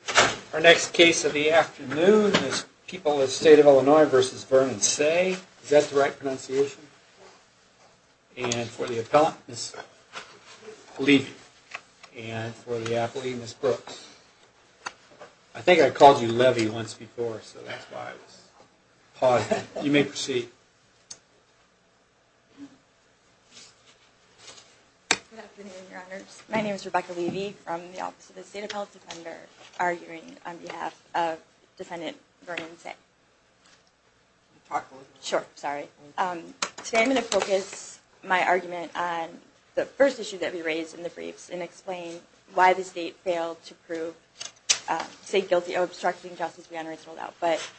Is that the right pronunciation? And for the appellant, Ms. Levy. And for the athlete, Ms. Brooks. I think I called you Levy once before, so that's why I was pausing. You may proceed. Good afternoon, Your Honors. My name is Rebecca Levy from the Office of the State Appellate Defender, arguing on behalf of Defendant Vernon Seay. Today I'm going to focus my argument on the first issue that we raised in the briefs and explain why the state failed to prove Seay guilty of obstructing justice beyond reasonable doubt. But,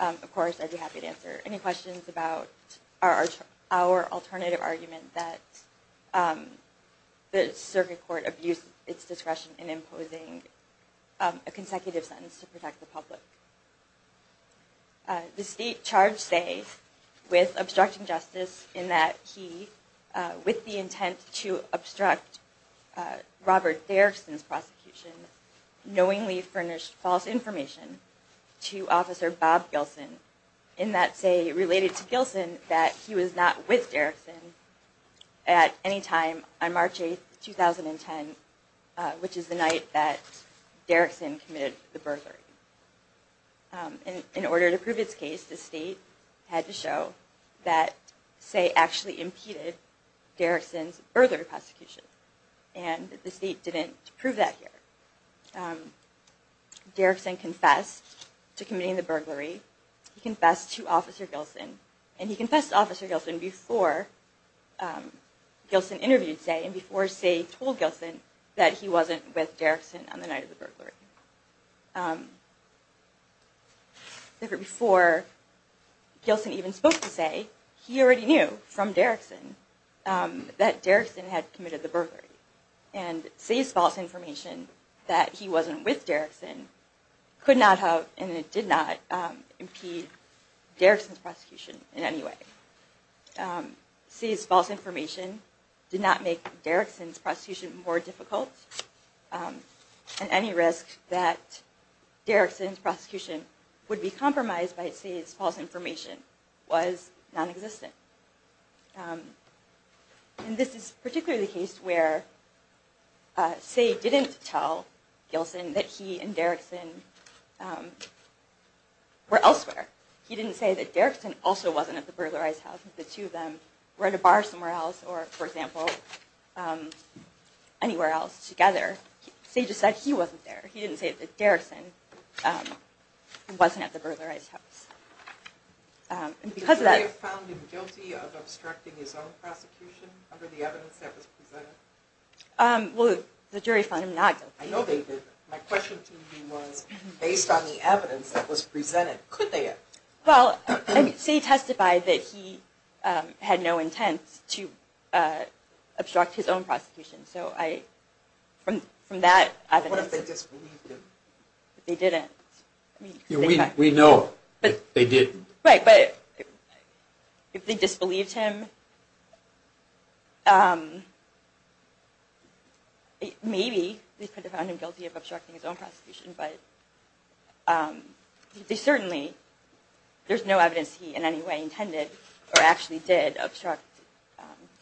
of course, I'd be happy to answer any questions about our alternative argument that the circuit court abused its discretion in imposing a consecutive sentence to protect the public. The state charged Seay with obstructing justice in that he, with the intent to obstruct Robert Derrickson's prosecution, knowingly furnished false information to Officer Bob Gilson in that Seay related to Gilson that he was not with Derrickson at any time on March 8, 2010, which is the night that Derrickson committed the burglary. In order to prove its case, the state had to show that Seay actually impeded Derrickson's burglary prosecution, and the state didn't prove that here. Derrickson confessed to committing the burglary. He confessed to Officer Gilson, and he confessed to Officer Gilson before Gilson interviewed Seay and before Seay told Gilson that he wasn't with Derrickson on the night of the burglary. Before Gilson even spoke to Seay, he already knew from Derrickson that Derrickson had committed the burglary, and Seay's false information that he wasn't with Derrickson could not have, and it did not, impede Derrickson's prosecution in any way. Seay's false information did not make Derrickson's prosecution more difficult, and any risk that Derrickson's prosecution would be compromised by Seay's false information was nonexistent. This is particularly the case where Seay didn't tell Gilson that he and Derrickson were elsewhere. He didn't say that Derrickson also wasn't at the burglarized house, that the two of them were at a bar somewhere else or, for example, anywhere else together. Seay just said he wasn't there. He didn't say that Derrickson wasn't at the burglarized house. Did the jury find him guilty of obstructing his own prosecution under the evidence that was presented? Well, the jury found him not guilty. I know they didn't. My question to you was, based on the evidence that was presented, could they have? Well, Seay testified that he had no intent to obstruct his own prosecution, so from that evidence… What if they disbelieved him? They didn't. We know they didn't. Right, but if they disbelieved him, maybe they found him guilty of obstructing his own prosecution, but there's no evidence he in any way intended or actually did obstruct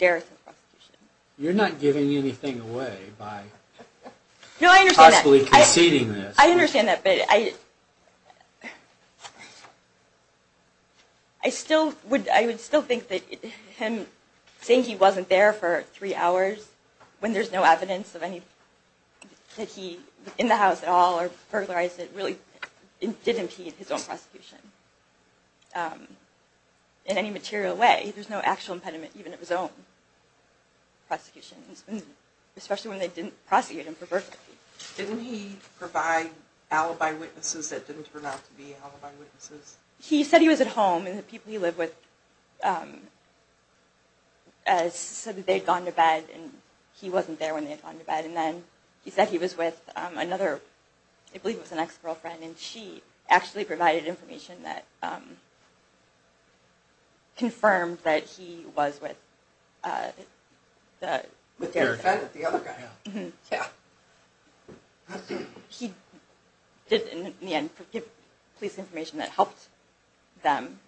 Derrickson's prosecution. You're not giving anything away by possibly conceding this. I understand that, but I would still think that him saying he wasn't there for three hours, when there's no evidence that he was in the house at all or burglarized it, really did impede his own prosecution in any material way. There's no actual impediment, even at his own prosecution, especially when they didn't prosecute him for burglary. Didn't he provide alibi witnesses that didn't turn out to be alibi witnesses? He said he was at home, and the people he lived with said that they'd gone to bed, and he wasn't there when they'd gone to bed. And then he said he was with another, I believe it was an ex-girlfriend, and she actually provided information that confirmed that he was with the other guy. He did, in the end, give police information that helped them.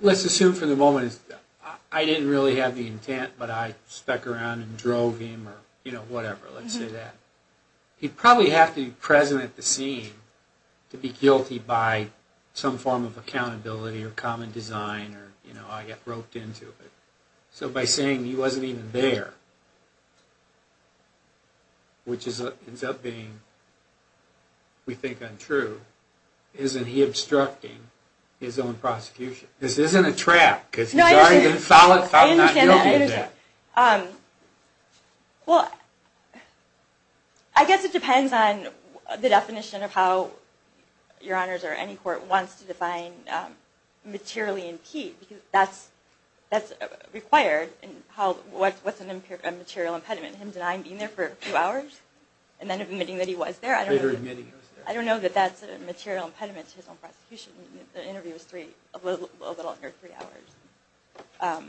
Let's assume for the moment that I didn't really have the intent, but I stuck around and drove him, or whatever, let's say that. He'd probably have to be present at the scene to be guilty by some form of accountability or common design, or I got roped into it. So by saying he wasn't even there, which ends up being, we think, untrue, isn't he obstructing his own prosecution? This isn't a trap, because he's already been found not guilty of that. I guess it depends on the definition of how your honors or any court wants to define materially impede, because that's required. What's a material impediment, him denying being there for a few hours, and then admitting that he was there? I don't know that that's a material impediment to his own prosecution. The interview was a little under three hours.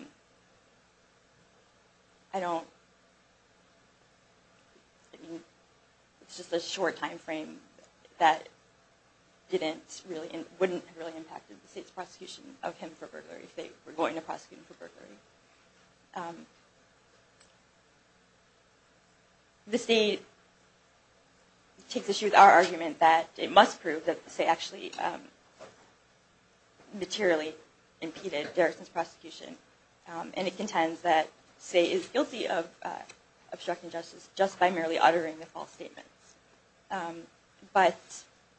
It's just a short time frame that wouldn't have really impacted the state's prosecution of him for burglary, if they were going to prosecute him for burglary. The state takes issue with our argument that it must prove that Say actually materially impeded Derrickson's prosecution, and it contends that Say is guilty of obstructing justice just by merely uttering the false statements. But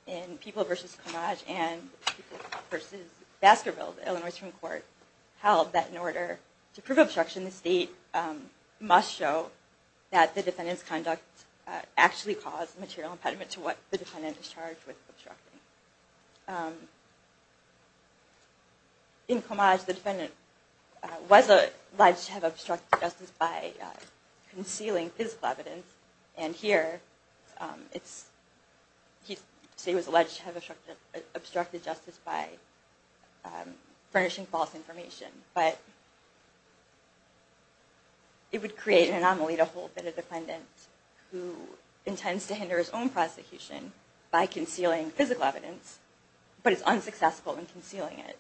in People v. Comage and People v. Baskerville, the Illinois Supreme Court held that in order to prove obstruction, the state must show that the defendant's conduct actually caused material impediment to what the defendant is charged with obstructing. In Comage, the defendant was alleged to have obstructed justice by concealing physical evidence, and here, Say was alleged to have obstructed justice by furnishing false information. But it would create an anomaly to hold that a defendant who intends to hinder his own prosecution by concealing physical evidence, but is unsuccessful in concealing it,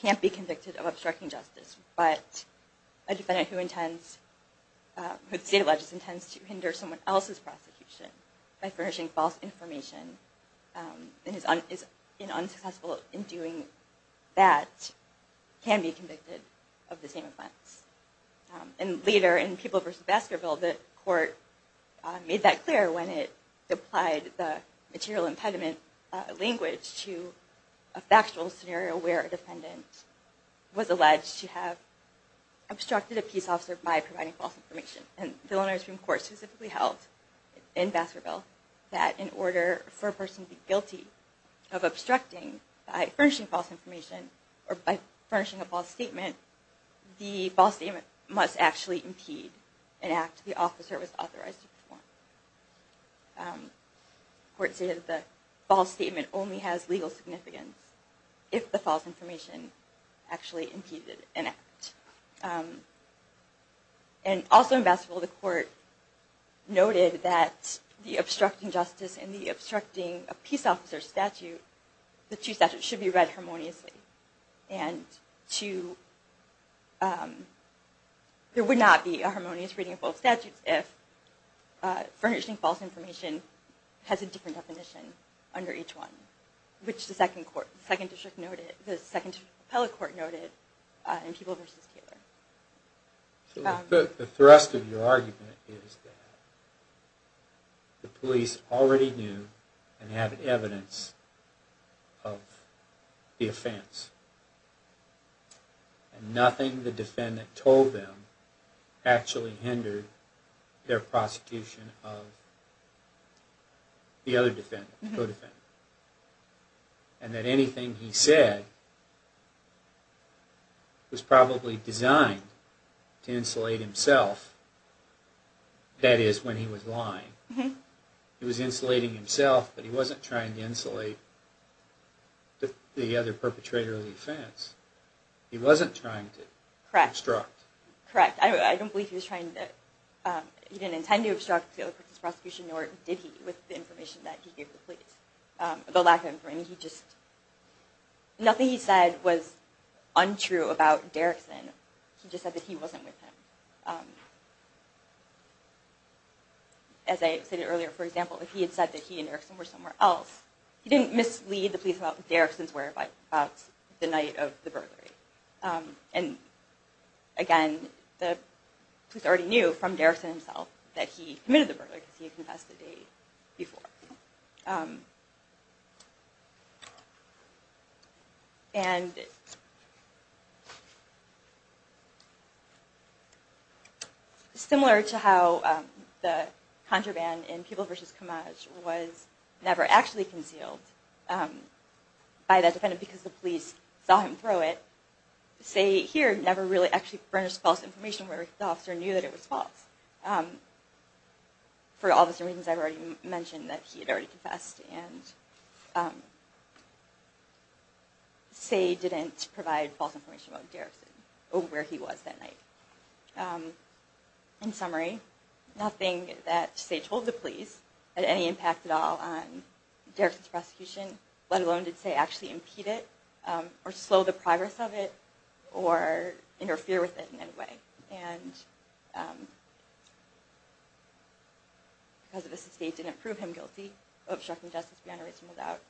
can't be convicted of obstructing justice. But a defendant who the state alleges intends to hinder someone else's prosecution by furnishing false information, and is unsuccessful in doing that, can be convicted of the same offense. And later, in People v. Baskerville, the court made that clear when it applied the material impediment language to a factual scenario where a defendant was alleged to have obstructed a peace officer by providing false information. And the Illinois Supreme Court specifically held, in Baskerville, that in order for a person to be guilty of obstructing by furnishing false information, or by furnishing a false statement, the false statement must actually impede an act the officer was authorized to perform. The court stated that the false statement only has legal significance if the false information actually impeded an act. And also in Baskerville, the court noted that the obstructing justice and the obstructing a peace officer statute, the two statutes should be read harmoniously. And there would not be a harmonious reading of both statutes if furnishing false information has a different definition under each one, which the second district appellate court noted in People v. Taylor. The thrust of your argument is that the police already knew and had evidence of the offense. And nothing the defendant told them actually hindered their prosecution of the other defendant, the co-defendant. And that anything he said was probably designed to insulate himself, that is, when he was lying. He was insulating himself, but he wasn't trying to insulate the other perpetrator of the offense. He wasn't trying to obstruct. Correct. I don't believe he was trying to, he didn't intend to obstruct the other person's prosecution, nor did he with the information that he gave the police. The lack of information, he just, nothing he said was untrue about Derrickson. He just said that he wasn't with him. As I said earlier, for example, if he had said that he and Derrickson were somewhere else, he didn't mislead the police about where Derrickson's whereabouts the night of the burglary. And again, the police already knew from Derrickson himself that he committed the burglary, because he had confessed the day before. Similar to how the contraband in People vs. Commerce was never actually concealed by the defendant because the police saw him throw it, Say here never really actually furnished false information where the officer knew that it was false. For all the reasons I've already mentioned, that he had already confessed, and Say didn't provide false information about Derrickson or where he was that night. In summary, nothing that Say told the police had any impact at all on Derrickson's prosecution, let alone did Say actually impede it, or slow the progress of it, or interfere with it in any way. Because of this, the state didn't prove him guilty of obstructing justice beyond a reasonable doubt,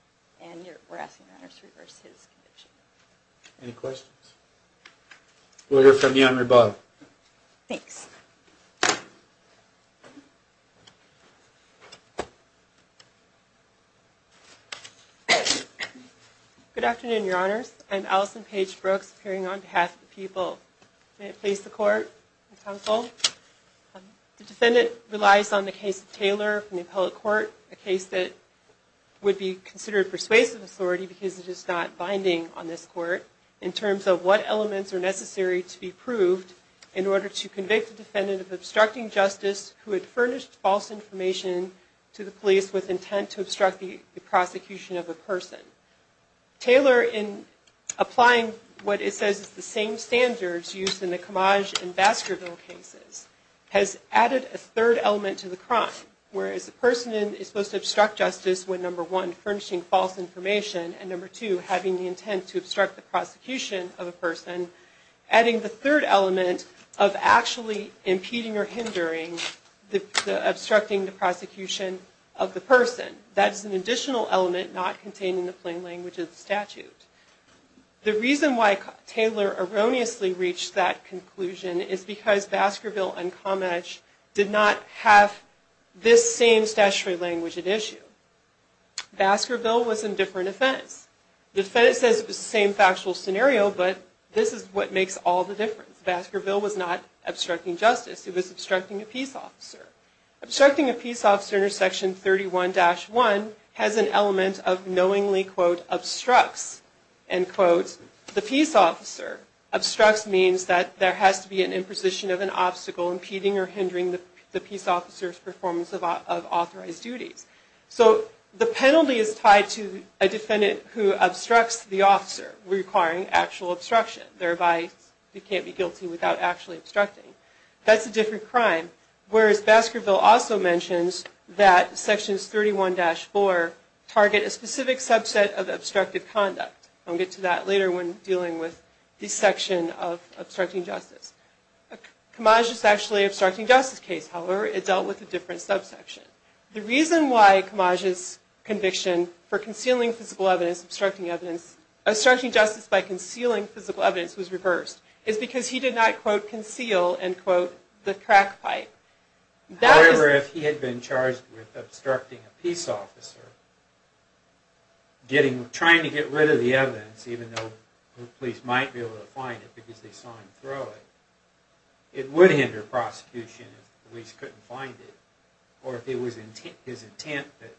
and we're asking your honors to reverse his conviction. Any questions? We'll hear from you on rebuttal. Thanks. Good afternoon, your honors. I'm Allison Paige Brooks, appearing on behalf of the People. May it please the court and counsel. The defendant relies on the case of Taylor from the appellate court, a case that would be considered persuasive authority because it is not binding on this court, in terms of what elements are necessary to be proved in order to convict the defendant of obstructing justice who had furnished false information to the police with intent to obstruct the prosecution of a person. Taylor, in applying what it says is the same standards used in the Camage and Baskerville cases, has added a third element to the crime, whereas the person is supposed to obstruct justice when number one, furnishing false information, and number two, having the intent to obstruct the prosecution of a person, adding the third element of actually impeding or hindering the obstructing the prosecution of the person. That is an additional element not contained in the plain language of the statute. The reason why Taylor erroneously reached that conclusion is because Baskerville and Camage did not have this same statutory language at issue. Baskerville was a different offense. The defendant says it was the same factual scenario, but this is what makes all the difference. Baskerville was not obstructing justice, it was obstructing a peace officer. Obstructing a peace officer under section 31-1 has an element of knowingly, quote, obstructs, end quote. The peace officer obstructs means that there has to be an imposition of an obstacle impeding or hindering the peace officer's performance of authorized duties. So the penalty is tied to a defendant who obstructs the officer requiring actual obstruction, thereby you can't be guilty without actually obstructing. That's a different crime, whereas Baskerville also mentions that sections 31-4 target a specific subset of obstructive conduct. I'll get to that later when dealing with the section of obstructing justice. Camage is actually an obstructing justice case, however it dealt with a different subsection. The reason why Camage's conviction for concealing physical evidence, obstructing evidence, obstructing justice by concealing physical evidence was reversed is because he did not, quote, conceal, end quote, the crack pipe. However, if he had been charged with obstructing a peace officer, trying to get rid of the evidence, even though the police might be able to find it because they saw him throw it, it would hinder prosecution if the police couldn't find it, or if it was his intent that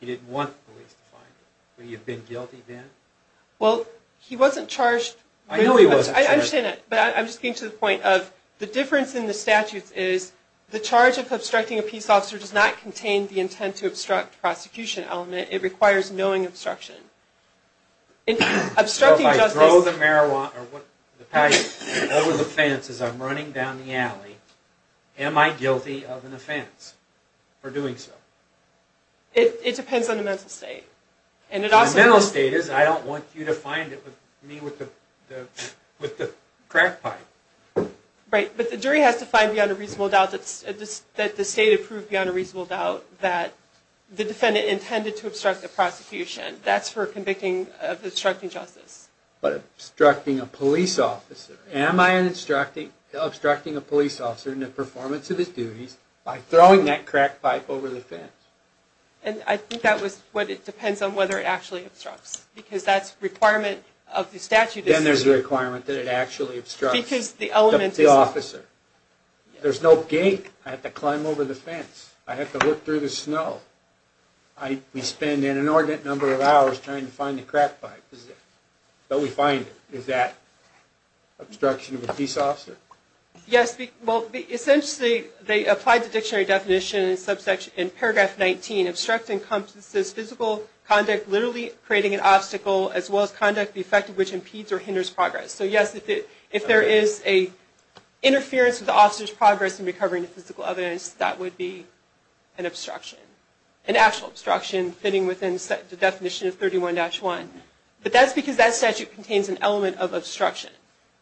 he didn't want the police to find it. Would he have been guilty then? Well, he wasn't charged. I know he wasn't charged. I understand that, but I'm just getting to the point of the difference in the statutes is the charge of obstructing a peace officer does not contain the intent to obstruct prosecution element. It requires knowing obstruction. So if I throw the pipe over the fence as I'm running down the alley, am I guilty of an offense for doing so? It depends on the mental state. The mental state is I don't want you to find me with the crack pipe. Right, but the jury has to find beyond a reasonable doubt that the state approved beyond a reasonable doubt that the defendant intended to obstruct the prosecution. That's for convicting of obstructing justice. But obstructing a police officer, am I obstructing a police officer in the performance of his duties by throwing that crack pipe over the fence? And I think that depends on whether it actually obstructs because that's a requirement of the statute. Then there's a requirement that it actually obstructs the officer. There's no gate. I have to climb over the fence. I have to look through the snow. We spend an inordinate number of hours trying to find the crack pipe. But we find it. Is that obstruction of a peace officer? Yes. Well, essentially, they applied the dictionary definition in paragraph 19. Obstructing encompasses physical conduct literally creating an obstacle as well as conduct the effect of which impedes or hinders progress. So, yes, if there is an interference with the officer's progress in recovering the physical evidence, that would be an obstruction, an actual obstruction fitting within the definition of 31-1. But that's because that statute contains an element of obstruction.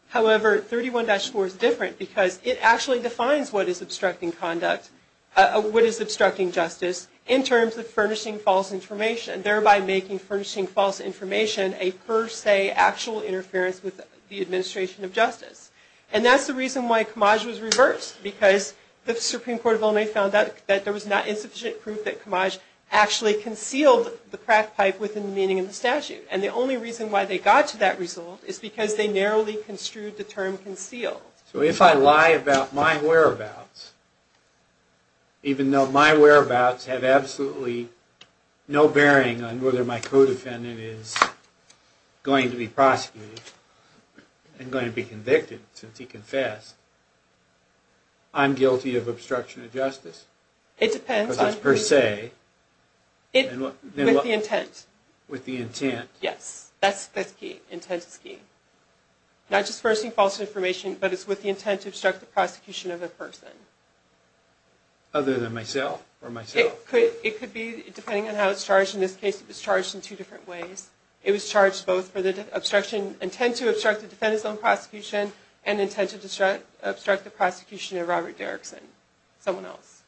However, 31-4 is different because it actually defines what is obstructing conduct, what is obstructing justice in terms of furnishing false information, and thereby making furnishing false information a per se actual interference with the administration of justice. And that's the reason why Comage was reversed because the Supreme Court of Illinois found that there was not insufficient proof that Comage actually concealed the crack pipe within the meaning of the statute. And the only reason why they got to that result is because they narrowly construed the term concealed. So if I lie about my whereabouts, even though my whereabouts have absolutely no bearing on whether my co-defendant is going to be prosecuted and going to be convicted since he confessed, I'm guilty of obstruction of justice? It depends. Because that's per se. With the intent. With the intent. Yes, that's the key. Intent is key. Not just furnishing false information, but it's with the intent to obstruct the prosecution of a person. Other than myself? It could be, depending on how it's charged. In this case, it was charged in two different ways. It was charged both for the intent to obstruct the defendant's own prosecution and the intent to obstruct the prosecution of Robert Derrickson. Someone else.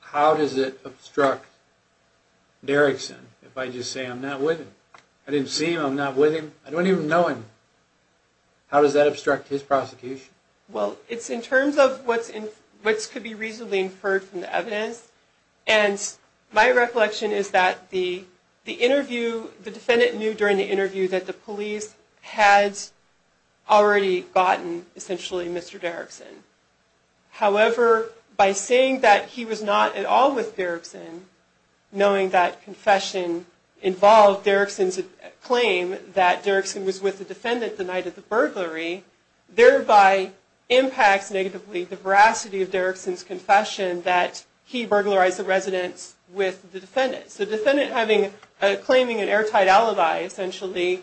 How does it obstruct Derrickson if I just say I'm not with him? I didn't see him. I'm not with him. I don't even know him. How does that obstruct his prosecution? Well, it's in terms of what could be reasonably inferred from the evidence, and my recollection is that the defendant knew during the interview that the police had already gotten, essentially, Mr. Derrickson. However, by saying that he was not at all with Derrickson, knowing that confession involved Derrickson's claim that Derrickson was with the defendant the night of the burglary, thereby impacts negatively the veracity of Derrickson's confession that he burglarized the residence with the defendant. So the defendant claiming an airtight alibi, essentially,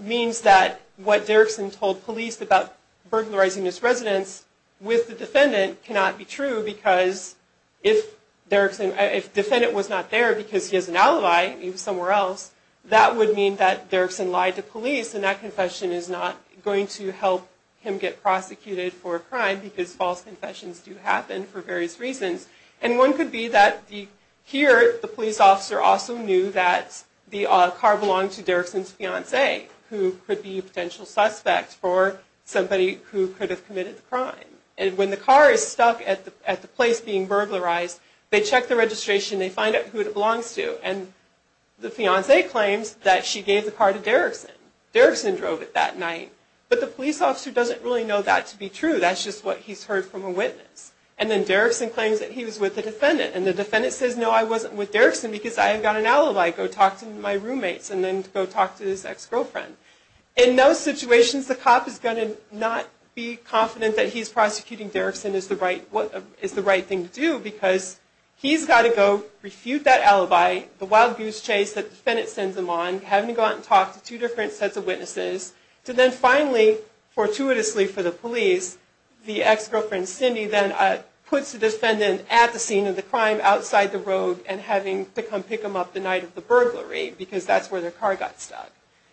means that what Derrickson told police about burglarizing his residence with the defendant cannot be true because if the defendant was not there because he has an alibi, he was somewhere else, that would mean that Derrickson lied to police, and that confession is not going to help him get prosecuted for a crime because false confessions do happen for various reasons. And one could be that here the police officer also knew that the car belonged to Derrickson's fiance, who could be a potential suspect for somebody who could have committed the crime. And when the car is stuck at the place being burglarized, they check the registration, they find out who it belongs to, and the fiance claims that she gave the car to Derrickson. Derrickson drove it that night. But the police officer doesn't really know that to be true. That's just what he's heard from a witness. And then Derrickson claims that he was with the defendant, and the defendant says, no, I wasn't with Derrickson because I've got an alibi. Go talk to my roommates, and then go talk to his ex-girlfriend. In those situations, the cop is going to not be confident that he's prosecuting Derrickson is the right thing to do because he's got to go refute that alibi, the wild goose chase that the defendant sends him on, having to go out and talk to two different sets of witnesses, to then finally, fortuitously for the police, the ex-girlfriend Cindy then puts the defendant at the scene of the crime, outside the road, and having to come pick him up the night of the burglary because that's where their car got stuck.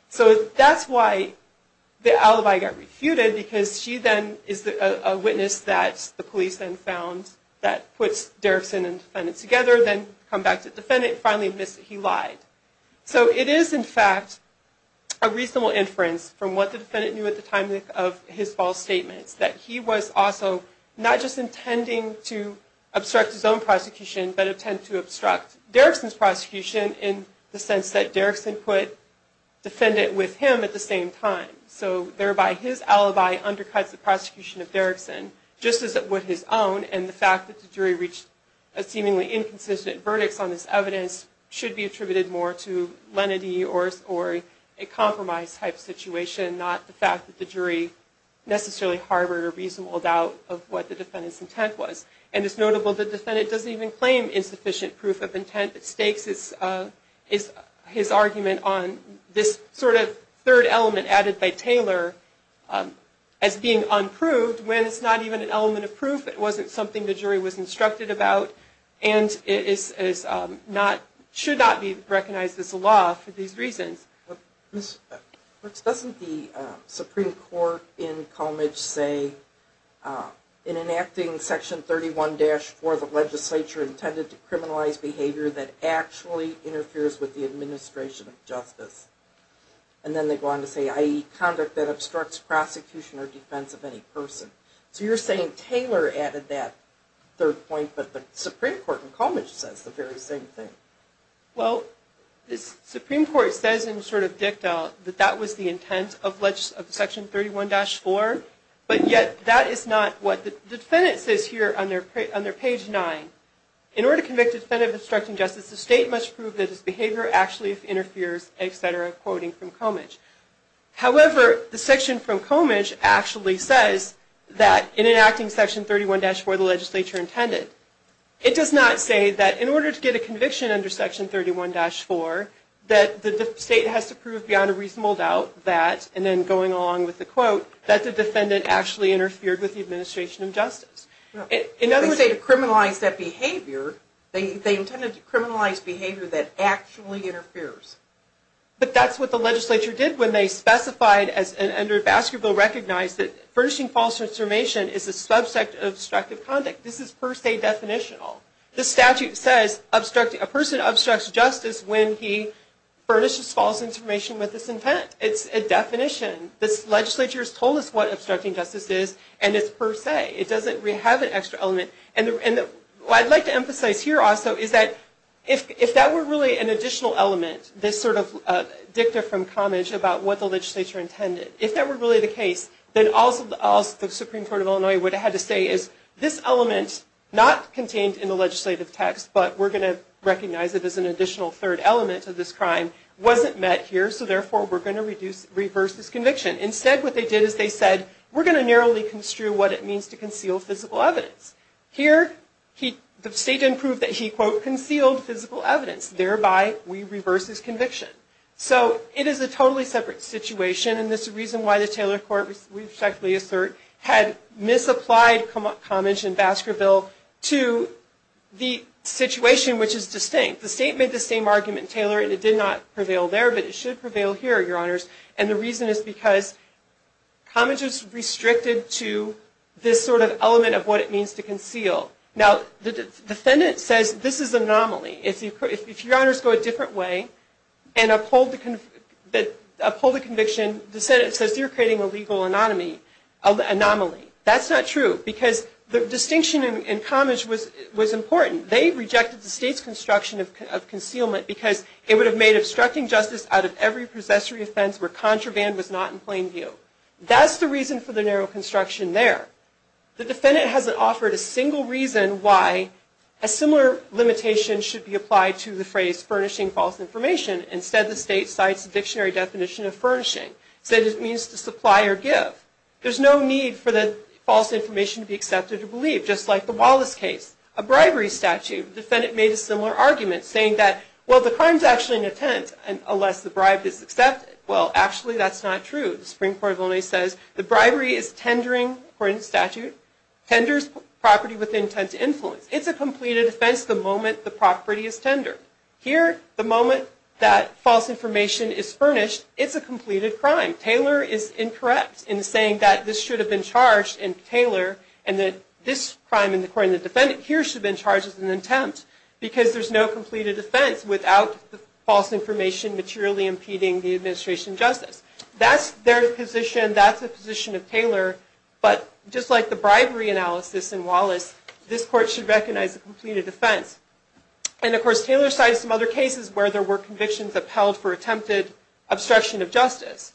So that's why the alibi got refuted because she then is a witness that the police then found that puts Derrickson and the defendant together, then come back to the defendant, and finally admits that he lied. So it is, in fact, a reasonable inference from what the defendant knew at the time of his false statements, that he was also not just intending to obstruct his own prosecution, but intend to obstruct Derrickson's prosecution in the sense that Derrickson put the defendant with him at the same time. So thereby, his alibi undercuts the prosecution of Derrickson, just as it would his own, and the fact that the jury reached a seemingly inconsistent verdict on this evidence should be attributed more to lenity or a compromise-type situation, not the fact that the jury necessarily harbored a reasonable doubt of what the defendant's intent was. And it's notable the defendant doesn't even claim insufficient proof of intent. It stakes his argument on this sort of third element added by Taylor as being unproved when it's not even an element of proof, it wasn't something the jury was instructed about, and it should not be recognized as a law for these reasons. Ms. Brooks, doesn't the Supreme Court in Colmage say, in enacting Section 31-4 of the legislature intended to criminalize behavior that actually interferes with the administration of justice, and then they go on to say, i.e. conduct that obstructs prosecution or defense of any person. So you're saying Taylor added that third point, but the Supreme Court in Colmage says the very same thing. Well, the Supreme Court says in sort of dicta that that was the intent of Section 31-4, but yet that is not what the defendant says here on their page 9. In order to convict a defendant of obstructing justice, the state must prove that his behavior actually interferes, etc., quoting from Colmage. However, the section from Colmage actually says that, in enacting Section 31-4 of the legislature intended, it does not say that in order to get a conviction under Section 31-4, that the state has to prove beyond a reasonable doubt that, and then going along with the quote, that the defendant actually interfered with the administration of justice. They say to criminalize that behavior. They intended to criminalize behavior that actually interferes. But that's what the legislature did when they specified, under a basket bill, recognized that furnishing false information is a subset of obstructive conduct. This is per se definitional. The statute says a person obstructs justice when he furnishes false information with this intent. It's a definition. This legislature has told us what obstructing justice is, and it's per se. It doesn't really have an extra element. And what I'd like to emphasize here also is that, if that were really an additional element, this sort of dicta from Colmage about what the legislature intended, if that were really the case, then also the Supreme Court of Illinois would have had to say is, this element, not contained in the legislative text, but we're going to recognize it as an additional third element to this crime, wasn't met here, so therefore we're going to reverse this conviction. Instead, what they did is they said, we're going to narrowly construe what it means to conceal physical evidence. Here, the state didn't prove that he, quote, concealed physical evidence. Thereby, we reverse this conviction. So, it is a totally separate situation, and this is the reason why the Taylor Court, we respectfully assert, had misapplied Colmage and Baskerville to the situation, which is distinct. The state made the same argument in Taylor, and it did not prevail there, but it should prevail here, Your Honors, and the reason is because Colmage is restricted to this sort of element of what it means to conceal. Now, the defendant says this is an anomaly. If Your Honors go a different way and uphold the conviction, the Senate says you're creating a legal anomaly. That's not true because the distinction in Colmage was important. They rejected the state's construction of concealment because it would have made obstructing justice out of every possessory offense where contraband was not in plain view. That's the reason for the narrow construction there. The defendant hasn't offered a single reason why a similar limitation should be applied to the phrase furnishing false information. Instead, the state cites the dictionary definition of furnishing, said it means to supply or give. There's no need for the false information to be accepted or believed, just like the Wallace case. A bribery statute, the defendant made a similar argument, saying that, well, the crime's actually an attempt, unless the bribe is accepted. Well, actually, that's not true. The Supreme Court of Illinois says the bribery is tendering, according to statute, tenders property with intent to influence. It's a completed offense the moment the property is tendered. Here, the moment that false information is furnished, it's a completed crime. Taylor is incorrect in saying that this should have been charged in Taylor and that this crime, according to the defendant here, should have been charged as an attempt because there's no completed offense without the false information materially impeding the administration justice. That's their position. That's the position of Taylor. But just like the bribery analysis in Wallace, this court should recognize a completed offense. And, of course, Taylor cites some other cases where there were convictions upheld for attempted obstruction of justice.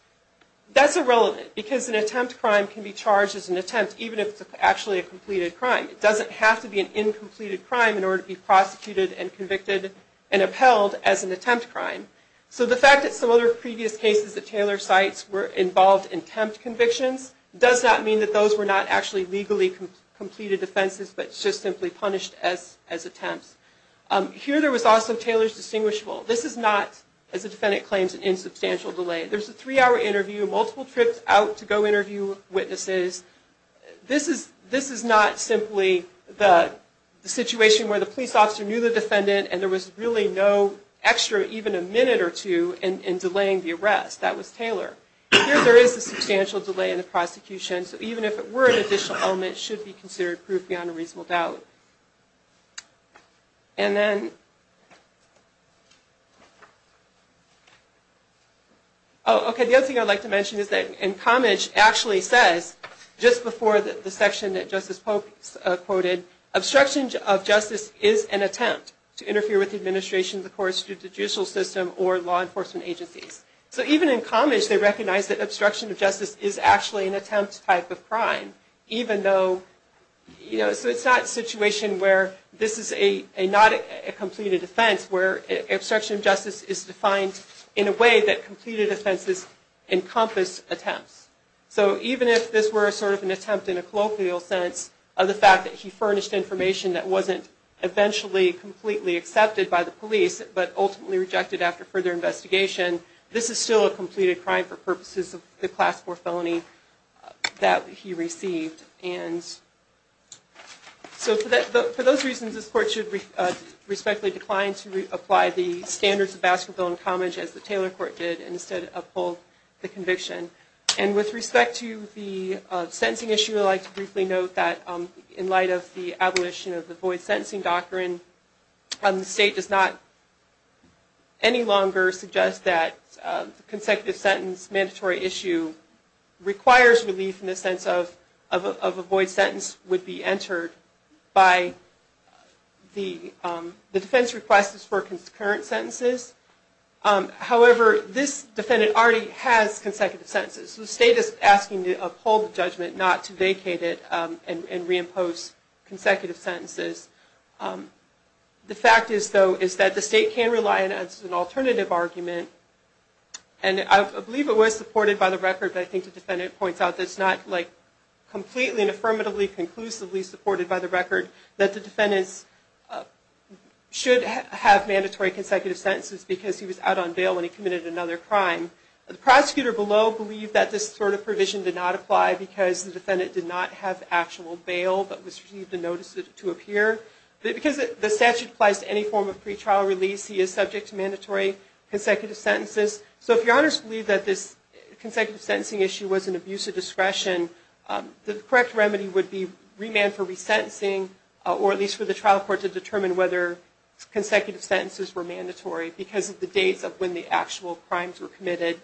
That's irrelevant because an attempt crime can be charged as an attempt, even if it's actually a completed crime. It doesn't have to be an incompleted crime in order to be prosecuted and convicted and upheld as an attempt crime. So the fact that some other previous cases that Taylor cites were involved in attempt convictions does not mean that those were not actually legally completed offenses but just simply punished as attempts. Here there was also Taylor's distinguishable. This is not, as the defendant claims, an insubstantial delay. There's a three-hour interview, multiple trips out to go interview witnesses. This is not simply the situation where the police officer knew the defendant and there was really no extra even a minute or two in delaying the arrest. That was Taylor. Here there is a substantial delay in the prosecution. So even if it were an additional element, it should be considered proof beyond a reasonable doubt. And then, oh, okay, the other thing I'd like to mention is that in Cammage actually says, just before the section that Justice Pope quoted, obstruction of justice is an attempt to interfere with the administration of the court's judicial system or law enforcement agencies. So even in Cammage they recognize that obstruction of justice is actually an attempt type of crime, even though, you know, so it's not a situation where this is not a completed offense where obstruction of justice is defined in a way that completed offenses encompass attempts. So even if this were sort of an attempt in a colloquial sense of the fact that he furnished information that wasn't eventually completely accepted by the state, this is still a completed crime for purposes of the class 4 felony that he received. And so for those reasons, this court should respectfully decline to apply the standards of basketball in Cammage as the Taylor court did and instead uphold the conviction. And with respect to the sentencing issue, I'd like to briefly note that in light of the abolition of the void sentencing doctrine, the state does not any longer suggest that the consecutive sentence mandatory issue requires relief in the sense of a void sentence would be entered by the defense request for concurrent sentences. However, this defendant already has consecutive sentences. So the state is asking to uphold the judgment, not to vacate it and reimpose consecutive sentences. The fact is, though, is that the state can rely on an alternative argument. And I believe it was supported by the record, but I think the defendant points out that it's not like completely and affirmatively conclusively supported by the record that the defendants should have mandatory consecutive sentences because he was out on bail and he committed another crime. The prosecutor below believed that this sort of provision did not apply because the defendant did not have actual bail but was received a notice to appear. But because the statute applies to any form of pretrial release, he is subject to mandatory consecutive sentences. So if your honors believe that this consecutive sentencing issue was an abuse of discretion, the correct remedy would be remand for resentencing or at least for the trial court to determine whether consecutive sentences were mandatory because of the dates of when the actual crimes were committed.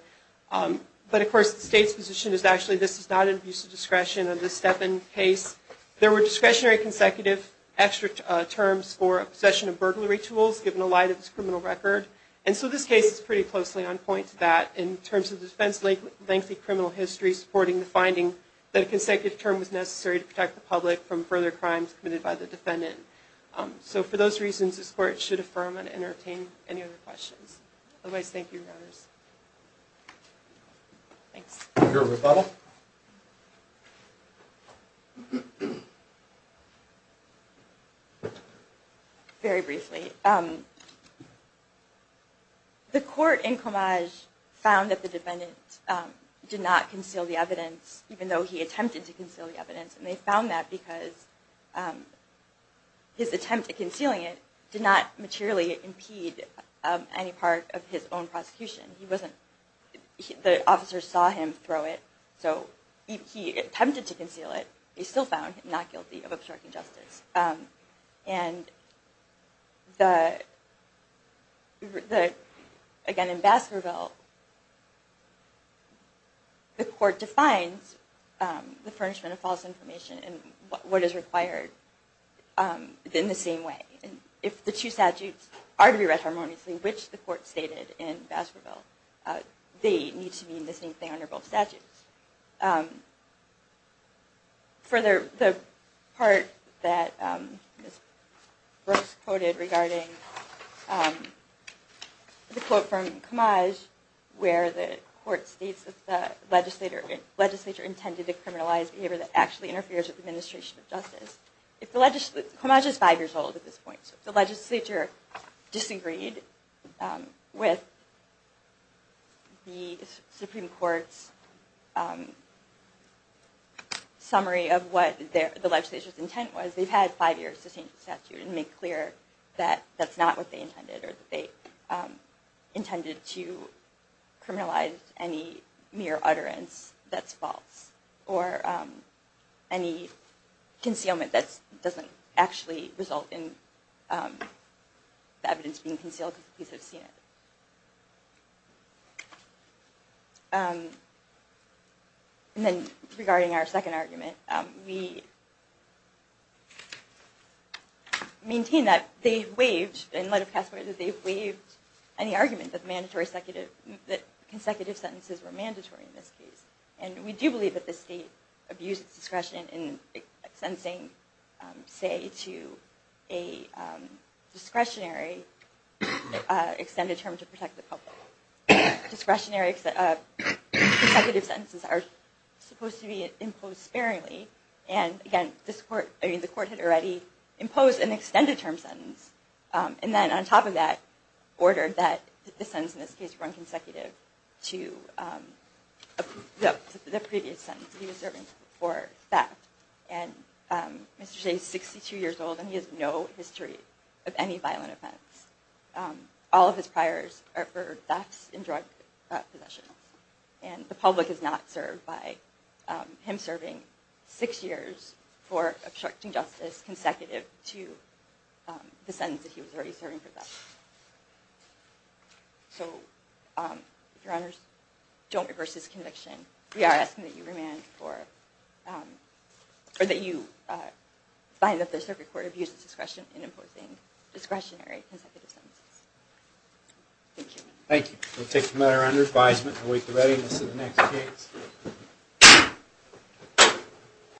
But of course, the state's position is actually this is not an abuse of discretion under the Stepin case. There were discretionary consecutive extra terms for possession of burglary tools given the light of this criminal record. And so this case is pretty closely on point to that in terms of defense lengthy criminal history supporting the finding that a consecutive term was necessary to protect the public from further crimes committed by the defendant. So for those reasons, this court should affirm and entertain any other questions. Otherwise, thank you, your honors. Thanks. Your rebuttal. Very briefly. The court in Comage found that the defendant did not conceal the evidence even though he attempted to conceal the evidence. And they found that because his attempt at concealing it did not materially impede any part of his own prosecution. The officer saw him throw it. So he attempted to conceal it. He still found him not guilty of obstructing justice. Again, in Baskerville, the court defines the furnishment of false information and what is required in the same way. If the two statutes are to be read harmoniously, which the court stated in Baskerville, they need to mean the same thing under both statutes. Further, the part that Ms. Brooks quoted regarding the quote from Comage where the court states that the legislature intended to criminalize behavior that actually interferes with administration of justice. Comage is five years old at this point. So if the legislature disagreed with the Supreme Court's summary of what the legislature's intent was, they've had five years to change the statute and make clear that that's not what they intended or that they intended to concealment that doesn't actually result in the evidence being concealed because the police have seen it. And then regarding our second argument, we maintain that they've waived and let it pass whether they've waived any argument that consecutive sentences were mandatory in this case. And we do believe that the state abused its discretion in extensing, say, to a discretionary extended term to protect the public. Discretionary consecutive sentences are supposed to be imposed sparingly. And again, the court had already imposed an extended term sentence. And then on top of that, ordered that the sentence in this case run consecutive to the previous sentence he was serving for theft. And Mr. Shays is 62 years old, and he has no history of any violent offense. All of his priors are for thefts and drug possession. And the public is not served by him serving six years for obstructing justice consecutive to the sentence that he was already serving for theft. So, Your Honors, don't reverse this conviction. We are asking that you find that the circuit court abuses discretion in imposing discretionary consecutive sentences. Thank you. Thank you. We'll take the matter under advisement and await the readiness of the next case.